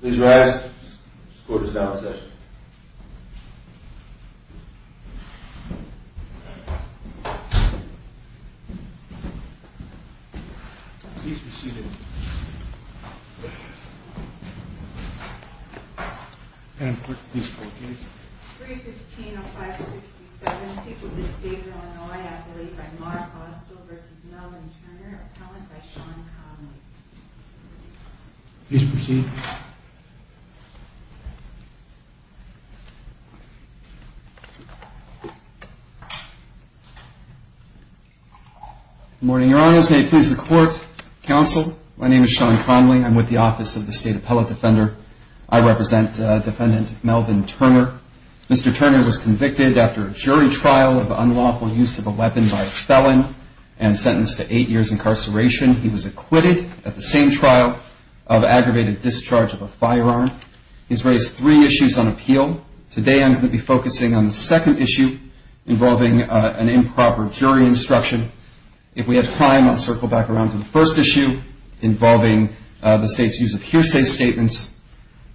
Please rise. The court is now in session. The court is now in session. I'm with the Office of the State Appellate Defender. I represent Defendant Melvin Turner. Mr. Turner was convicted after a jury trial of unlawful use of a weapon by a felon and sentenced to eight years' incarceration. He was acquitted at the same trial of aggravated discharge of a firearm. He's raised three issues on appeal. Today I'm going to be focusing on the second issue involving an improper jury instruction. If we have time, I'll circle back around to the first issue involving the State's use of hearsay statements.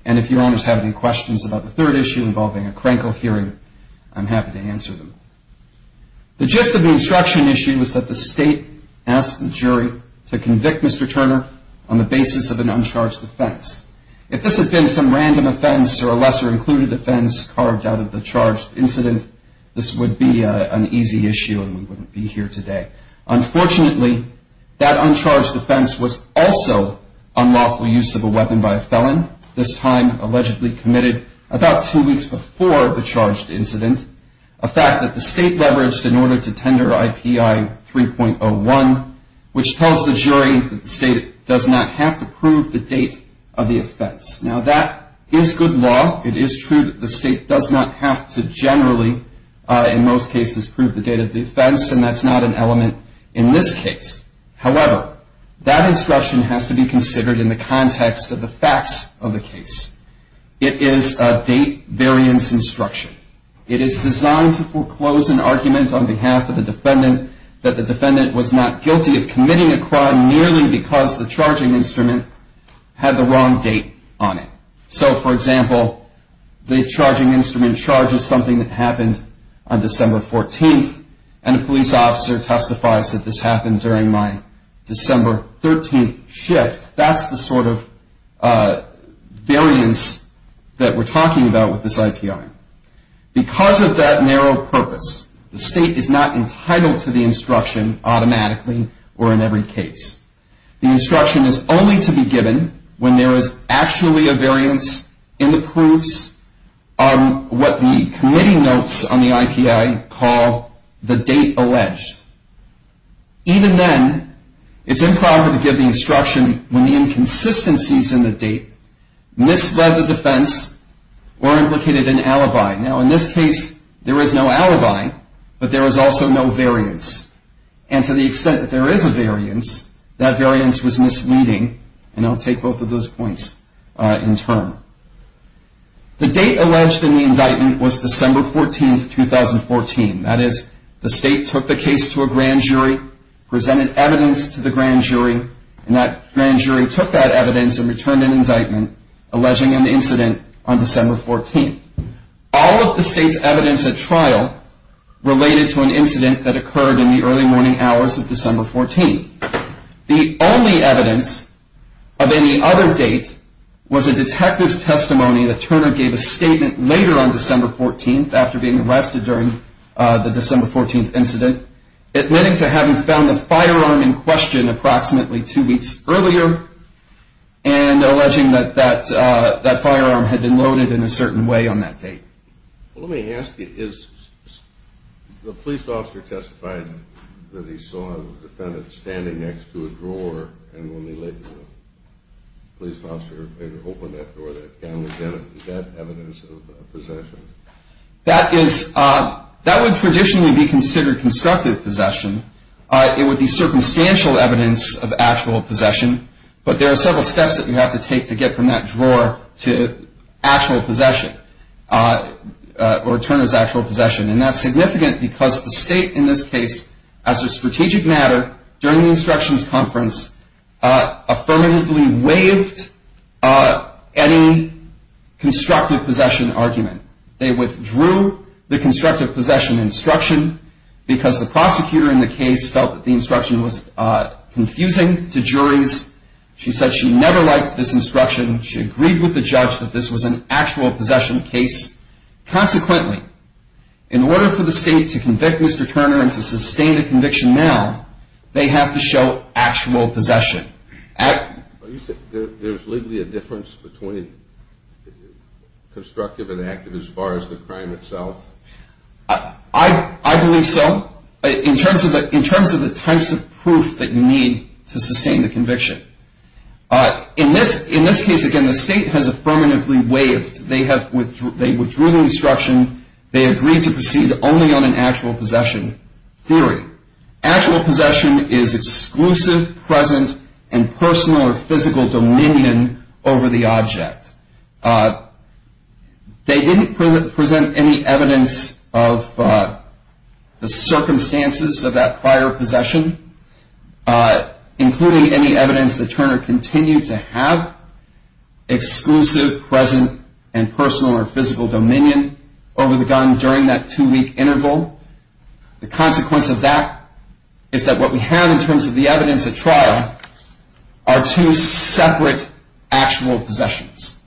And if your Honors have any questions about the third issue involving a Krenkel hearing, I'm happy to answer them. The gist of the instruction issue is that the State asked the jury to convict Mr. Turner on the basis of an uncharged offense. If this had been some random offense or a lesser-included offense carved out of the charged incident, this would be an easy issue and we wouldn't be here today. Unfortunately, that uncharged offense was also unlawful use of a weapon by a felon, this time allegedly committed about two weeks before the charged incident, a fact that the State leveraged in order to tender IPI 3.01, which tells the jury that the State does not have to prove the date of the offense. Now that is good law. It is true that the State does not have to generally, in most cases, prove the date of the offense, and that's not an element in this case. However, that instruction has to be considered in the context of the facts of the case. It is a date-variance instruction. It is designed to foreclose an argument on behalf of the defendant that the defendant was not guilty of committing a crime merely because the charging instrument had the wrong date on it. So, for example, the charging instrument charges something that happened on December 14th, and a police officer testifies that this happened during my December 13th shift. That's the sort of variance that we're talking about with this IPI. Because of that narrow purpose, the State is not entitled to the instruction automatically or in every case. The instruction is only to be given when there is actually a variance in the proofs on what the committee notes on the IPI call the date alleged. Even then, it's improper to give the instruction when the inconsistencies in the date misled the defense or implicated an alibi. Now, in this case, there is no alibi, but there is also no variance. And to the extent that there is a variance, that variance was misleading, and I'll take both of those points in turn. The date alleged in the indictment was December 14th, 2014. That is, the State took the case to a grand jury, presented evidence to the grand jury, and that grand jury took that evidence and returned an indictment, alleging an incident on December 14th. All of the State's evidence at trial related to an incident that occurred in the early morning hours of December 14th. The only evidence of any other date was a detective's testimony that Turner gave a statement later on December 14th after being arrested during the December 14th incident, admitting to having found the firearm in question approximately two weeks earlier and alleging that that firearm had been loaded in a certain way on that date. Well, let me ask you, the police officer testified that he saw the defendant standing next to a drawer and when they left the room. Is that evidence of possession? That would traditionally be considered constructive possession. It would be circumstantial evidence of actual possession, but there are several steps that you have to take to get from that drawer to actual possession, or Turner's actual possession, and that's significant because the State in this case, as a strategic matter during the instructions conference, affirmatively waived any constructive possession argument. They withdrew the constructive possession instruction because the prosecutor in the case felt that the instruction was confusing to juries. She said she never liked this instruction. She agreed with the judge that this was an actual possession case. Consequently, in order for the State to convict Mr. Turner and to sustain the conviction now, they have to show actual possession. There's legally a difference between constructive and active as far as the crime itself? I believe so. In terms of the types of proof that you need to sustain the conviction. In this case, again, the State has affirmatively waived. They withdrew the instruction. They agreed to proceed only on an actual possession theory. Actual possession is exclusive, present, and personal or physical dominion over the object. They didn't present any evidence of the circumstances of that prior possession, including any evidence that Turner continued to have exclusive, present, and personal or physical dominion over the gun during that two-week interval. The consequence of that is that what we have in terms of the evidence at trial are two separate actual possessions.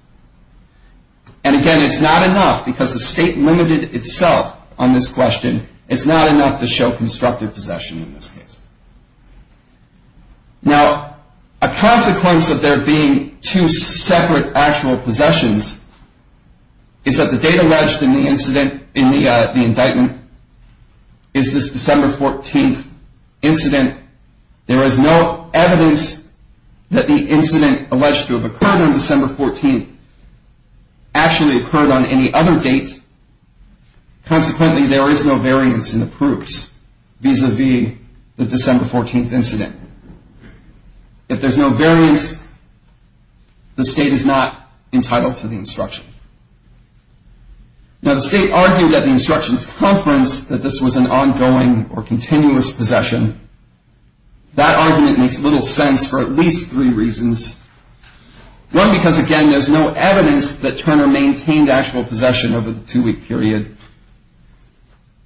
And again, it's not enough because the State limited itself on this question. It's not enough to show constructive possession in this case. Now, a consequence of there being two separate actual possessions is that the date alleged in the incident, in the indictment, is this December 14th incident. There is no evidence that the incident alleged to have occurred on December 14th actually occurred on any other date. Consequently, there is no variance in the proofs vis-a-vis the December 14th incident. If there's no variance, the State is not entitled to the instruction. Now, the State argued at the instructions conference that this was an ongoing or continuous possession. That argument makes little sense for at least three reasons. One, because, again, there's no evidence that Turner maintained actual possession over the two-week period.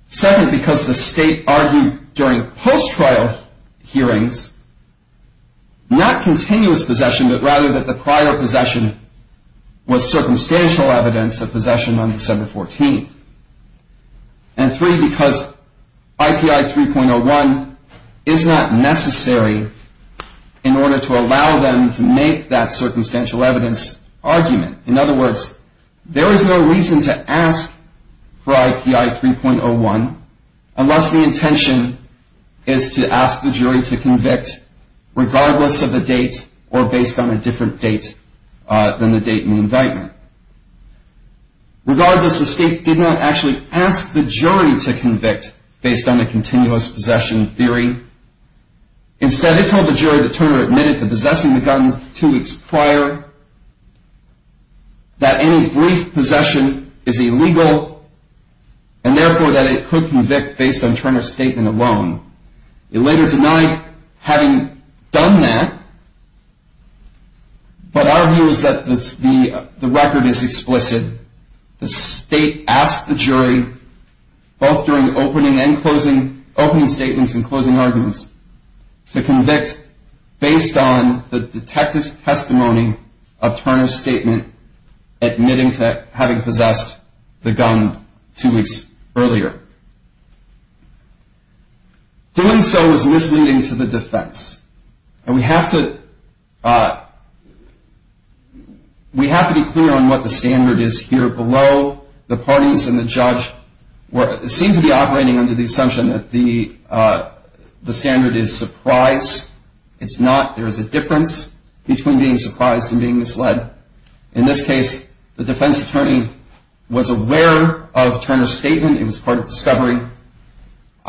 Second, because the State argued during post-trial hearings not continuous possession, but rather that the prior possession was circumstantial evidence of possession on December 14th. And three, because IPI 3.01 is not necessary in order to allow them to make that circumstantial evidence argument. In other words, there is no reason to ask for IPI 3.01 unless the intention is to ask the jury to convict regardless of the date or based on a different date than the date in the indictment. Regardless, the State did not actually ask the jury to convict based on the continuous possession theory. Instead, it told the jury that Turner admitted to possessing the guns two weeks prior, that any brief possession is illegal and, therefore, that it could convict based on Turner's statement alone. It later denied having done that, but our view is that the record of Turner's statement alone is sufficient and that the record is explicit. The State asked the jury, both during the opening statements and closing arguments, to convict based on the detective's testimony of Turner's statement admitting to having possessed the gun two weeks earlier. Doing so is misleading to the defense, and we have to be clear on what the standard is here below. The parties and the judge seem to be operating under the assumption that the standard is surprise. It's not. There is a difference between being surprised and being misled. I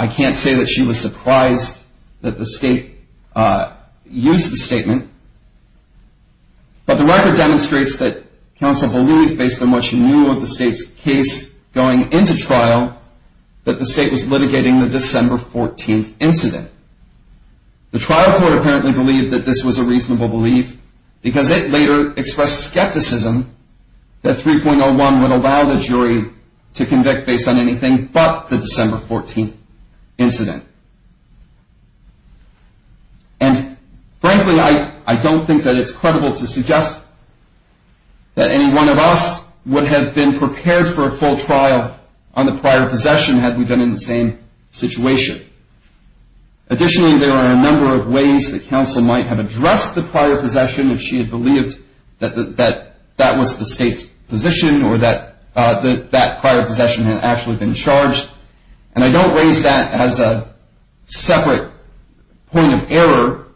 can't say that she was surprised that the State used the statement, but the record demonstrates that counsel believed, based on what she knew of the State's case going into trial, that the State was litigating the December 14th incident. The trial court apparently believed that this was a reasonable belief because it later expressed skepticism that 3.01 would allow the jury to convict based on anything but the December 14th incident. And frankly, I don't think that it's credible to suggest that any one of us would have been prepared for a full trial on the prior possession had we been in the same situation. Additionally, there are a number of ways that counsel might have addressed the prior possession if she had believed that that was the State's position or that that prior possession had actually been charged. And I don't raise that as a separate point of error,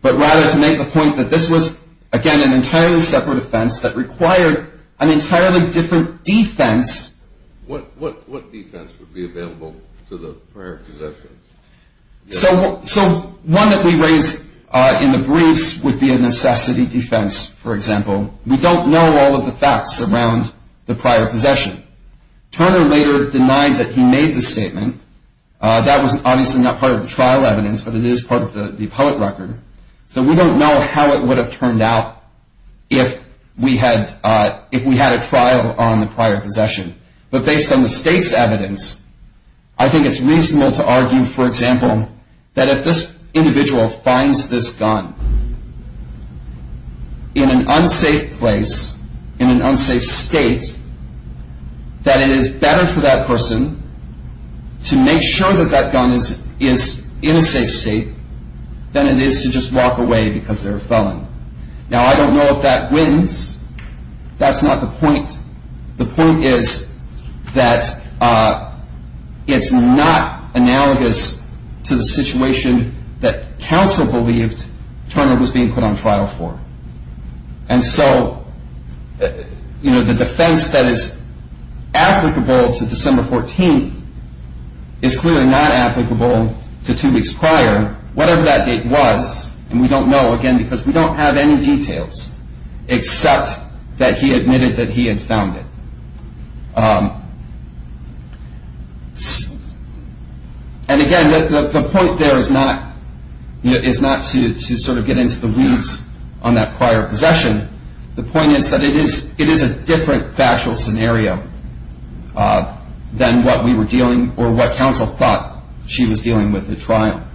but rather to make the point that this was, again, an entirely separate offense that required an entirely different defense. What defense would be available to the prior possessions? So one that we raise in the briefs would be a necessity defense, for example. We don't know all of the facts around the prior possession. Turner later denied that he made the statement. That was obviously not part of the trial evidence, but it is part of the appellate record. So we don't know how it would have turned out if we had a trial on the prior possession. But based on the State's evidence, I think it's reasonable to argue, for example, that if this individual finds this gun in an unsafe place, in an unsafe state, that it is better for that person to make sure that that gun is in a safe state than it is to just walk away because they're a felon. Now, I don't know if that wins. That's not the point. The point is that it's not analogous to the situation that counsel believed Turner was being put on trial for. And so the defense that is applicable to December 14th is clearly not applicable to two weeks prior, whatever that date was, and we don't know, again, because we don't have any details except that he admitted that he had found it. And again, the point there is not to sort of get into the weeds on that prior possession. The point is that it is a different factual scenario than what we were dealing or what counsel thought she was dealing with at trial.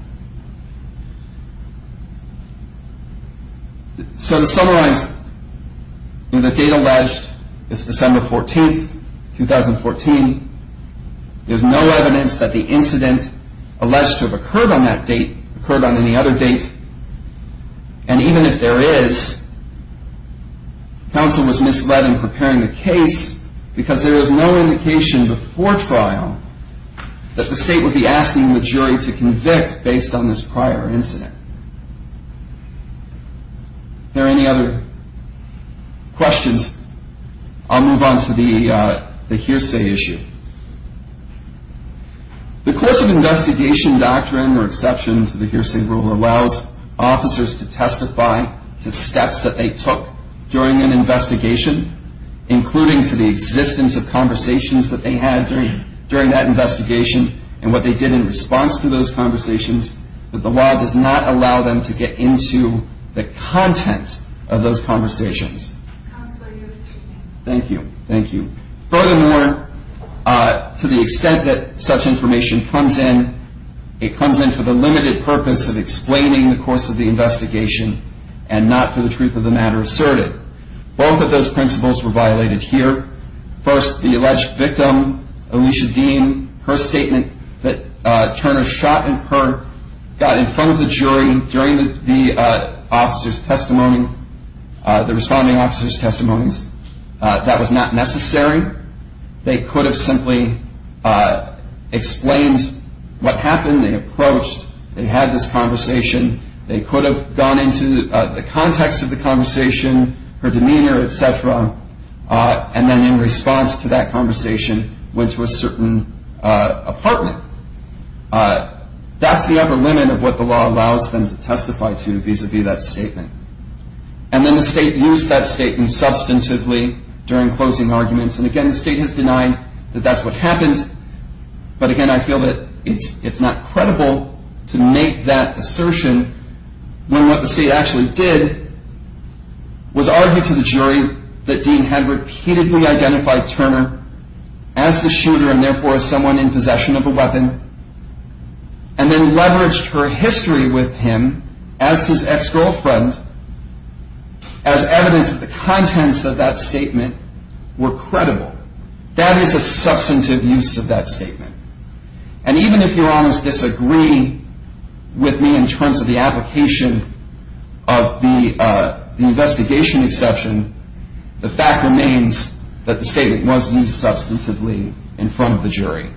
So to summarize, the date alleged is December 14th, 2014. There's no evidence that the incident alleged to have occurred on that date occurred on any other date. And even if there is, counsel was misled in preparing the case because there is no indication before trial that the state would be asking the jury to convict based on this prior incident. Are there any other questions? I'll move on to the hearsay issue. The course of investigation doctrine, or exception to the hearsay rule, allows officers to testify to steps that they took during an investigation, including to the existence of conversations that they had during that investigation and what they did in response to those conversations, but the law does not allow them to get into the content of those conversations. Thank you. Thank you. Furthermore, to the extent that such information comes in, it comes in for the limited purpose of explaining the course of the investigation and not for the truth of the matter asserted. Both of those principles were violated here. First, the alleged victim, Alicia Dean, her statement that Turner shot in her got in front of the jury during the officer's testimony, the responding officer's testimonies. That was not necessary. They could have simply explained what happened. They approached. They had this conversation. They could have gone into the context of the conversation, her demeanor, et cetera, and then in response to that conversation went to a certain apartment. That's the upper limit of what the law allows them to testify to vis-à-vis that statement. And then the state used that statement substantively during closing arguments. And again, the state has denied that that's what happened. But again, I feel that it's not credible to make that assertion when what the state actually did was argue to the jury that Dean had repeatedly identified Turner as the shooter and then leveraged her history with him as his ex-girlfriend as evidence that the contents of that statement were credible. That is a substantive use of that statement. And even if Your Honors disagree with me in terms of the application of the investigation exception, the fact remains that the statement was used substantively in front of the jury.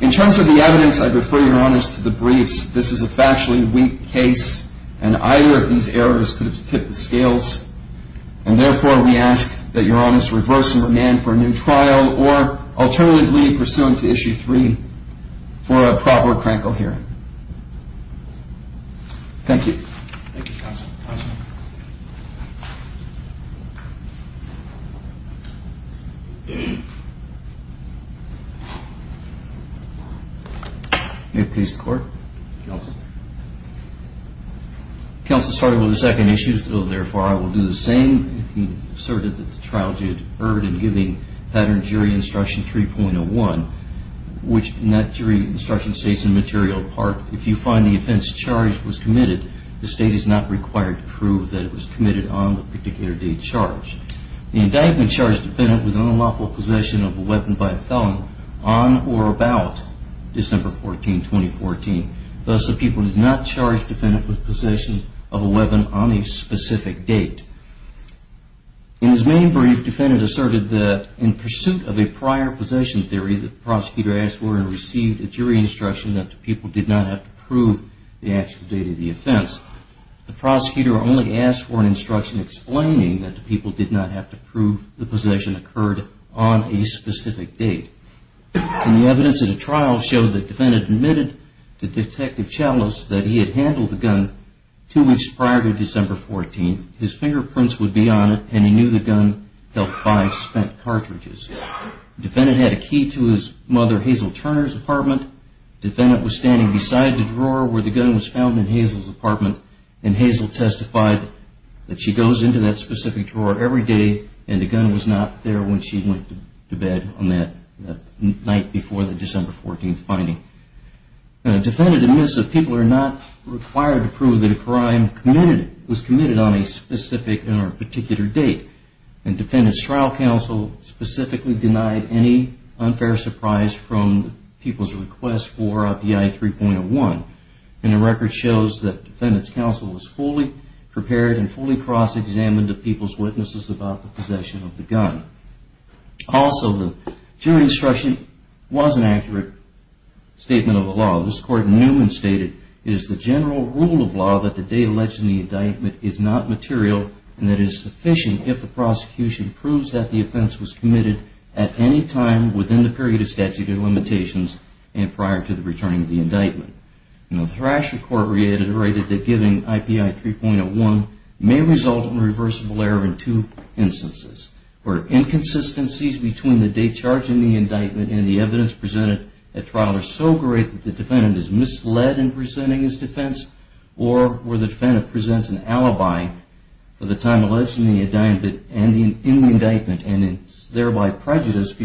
In terms of the evidence, I refer Your Honors to the briefs. This is a factually weak case, and either of these errors could have tipped the scales. And therefore, we ask that Your Honors reverse and remand for a new trial or alternatively pursuant to Issue 3 for a proper crankle hearing. Thank you. May it please the Court? Counsel. Counsel, sorry about the second issue, so therefore I will do the same. You asserted that the trial did erred in giving Pattern Jury Instruction 3.01, which in that jury instruction states in material part, if you find the offense charged was committed, the State is not required to prove that it was committed on the particular date charged. The indictment charged the defendant with unlawful possession of a weapon by a felon on or about December 14, 2014. Thus, the people did not charge the defendant with possession of a weapon on a specific date. In his main brief, the defendant asserted that in pursuit of a prior possession theory, the prosecutor asked for and received a jury instruction that the people did not have to prove the actual date of the offense. The prosecutor only asked for an instruction explaining that the people did not have to prove the possession occurred on a specific date. And the evidence in the trial showed that the defendant admitted to Detective Chalice that he had handled the gun two weeks prior to December 14. His fingerprints would be on it, and he knew the gun held five spent cartridges. The defendant had a key to his mother Hazel Turner's apartment. The defendant was standing beside the drawer where the gun was found in Hazel's apartment, and Hazel testified that she goes into that specific drawer every day, and the gun was not there when she went to bed on that night before the December 14 finding. The defendant admits that people are not required to prove that a crime was committed on a specific or particular date, and Defendant's Trial Counsel specifically denied any unfair surprise from the people's request for OPI 3.01. And the record shows that Defendant's Counsel was fully prepared and fully cross-examined the people's witnesses about the possession of the gun. Also, the jury instruction was an accurate statement of the law. This Court knew and stated, it is the general rule of law that the date alleged in the indictment is not material and that it is sufficient if the prosecution proves that the offense was committed at any time within the period of statute of limitations and prior to the returning of the indictment. The Thrasher Court reiterated that giving OPI 3.01 may result in a reversible error in two instances, where inconsistencies between the date charged in the indictment and the evidence presented at trial are so great that the defendant is misled in presenting his defense, or where the defendant presents an alibi for the time alleged in the indictment and is thereby prejudiced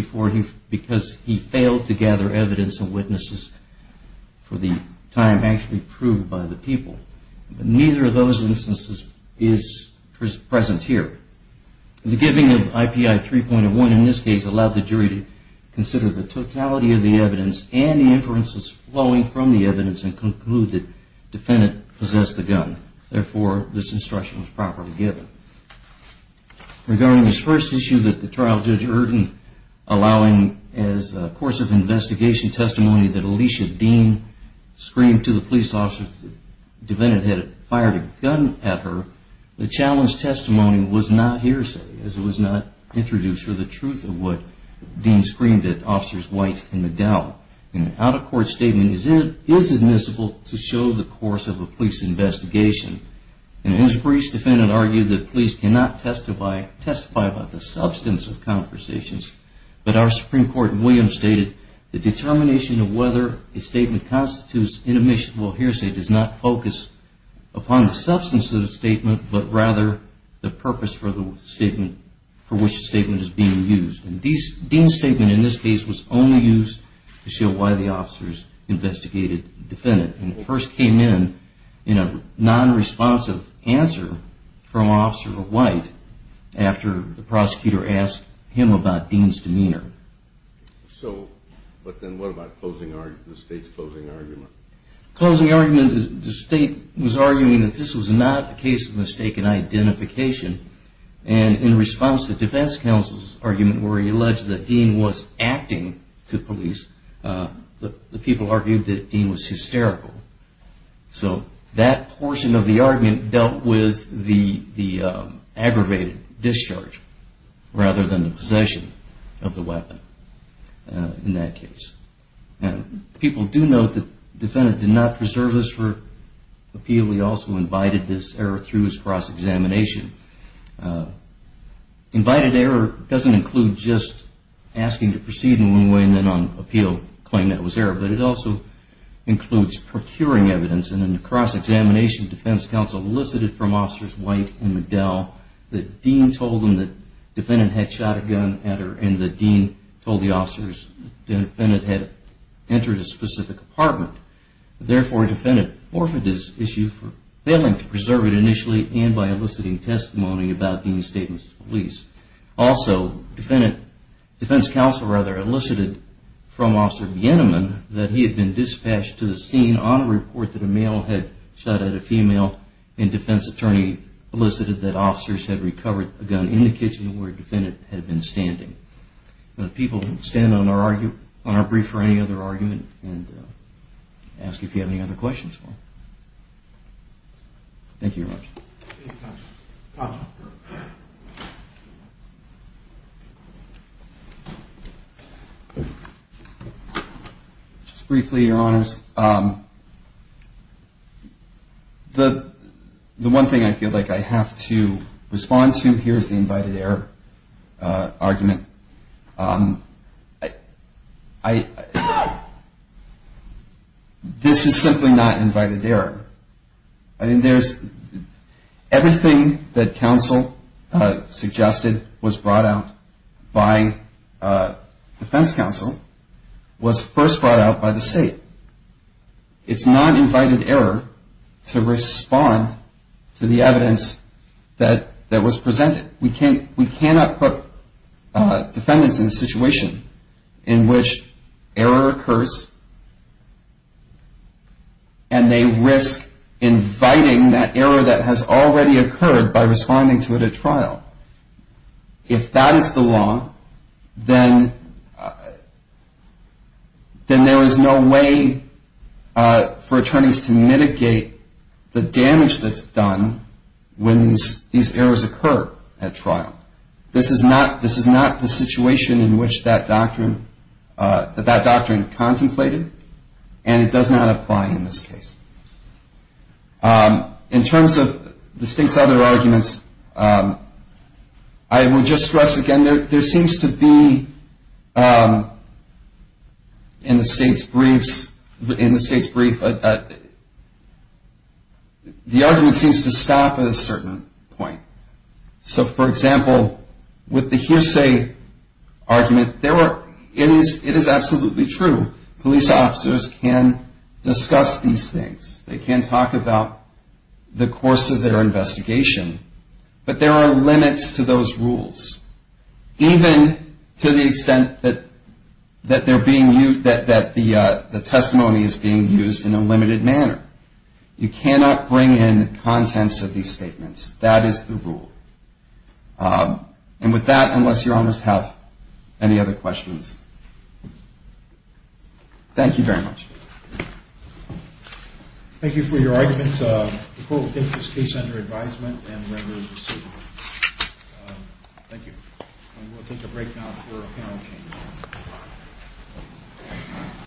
because he failed to gather evidence and witnesses for the time actually proved by the people. But neither of those instances is present here. The giving of OPI 3.01 in this case allowed the jury to consider the totality of the evidence and the inferences flowing from the evidence and conclude that the defendant possessed the gun. Therefore, this instruction was properly given. Regarding this first issue that the trial judge heard in allowing as a course of investigation testimony that Alicia Dean screamed to the police officers that the defendant had fired a gun at her, the challenged testimony was not hearsay, as it was not introduced for the truth of what Dean screamed at officers White and McDowell. An out-of-court statement is admissible to show the course of a police investigation. An inquiries defendant argued that police cannot testify about the substance of conversations, but our Supreme Court in Williams stated, the determination of whether a statement constitutes an admissible hearsay does not focus upon the substance of the statement, but rather the purpose for which the statement is being used. Dean's statement in this case was only used to show why the officers investigated the defendant. When it first came in, in a non-responsive answer from Officer White after the prosecutor asked him about Dean's demeanor. So, but then what about the state's closing argument? The state was arguing that this was not a case of mistaken identification and in response to defense counsel's argument where he alleged that Dean was acting to So, that portion of the argument dealt with the aggravated discharge rather than the possession of the weapon in that case. People do note that the defendant did not preserve this for appeal. He also invited this error through his cross-examination. Invited error doesn't include just asking to proceed in one way and then on appeal claim that was error, but it also includes procuring evidence and in the cross-examination defense counsel elicited from Officers White and Medell that Dean told them that the defendant had shot a gun at her and that Dean told the officers that the defendant had entered a specific apartment. Therefore, the defendant forfeited his issue for failing to preserve it initially and by eliciting testimony about Dean's statements to police. Also, defense counsel rather elicited from Officer Bieneman that he had been dispatched to the scene on a report that a male had shot at a female and defense attorney elicited that officers had recovered a gun in the kitchen where the defendant had been standing. People can stand on our brief for any other argument and ask if you have any other questions. Thank you very much. Just briefly, your honors, the one thing I feel like I have to respond to, here's the invited error argument. This is simply not invited error. I mean, there's everything that counsel suggested was brought out by defense counsel was first brought out by the state. It's not invited error to respond to the evidence that was presented. We cannot put defendants in a situation in which error occurs and they risk inviting that error that has already occurred by responding to it at trial. If that is the law, then there is no way for attorneys to mitigate the damage that's done when these errors occur at trial. This is not the situation in which that doctrine contemplated and it does not apply in this case. In terms of the state's other arguments, I would just stress again, there seems to be in the state's briefs, the argument seems to stop at a certain point. So, for example, with the hearsay argument, it is absolutely true police officers can discuss these things. They can talk about the course of their case, and to the extent that they're being used, that the testimony is being used in a limited manner. You cannot bring in contents of these statements. That is the rule. And with that, unless Your Honors have any other questions. Thank you very much. Thank you for your argument. The court will take this case under advisement and members receive it. Thank you. We'll take a break now for a panel change.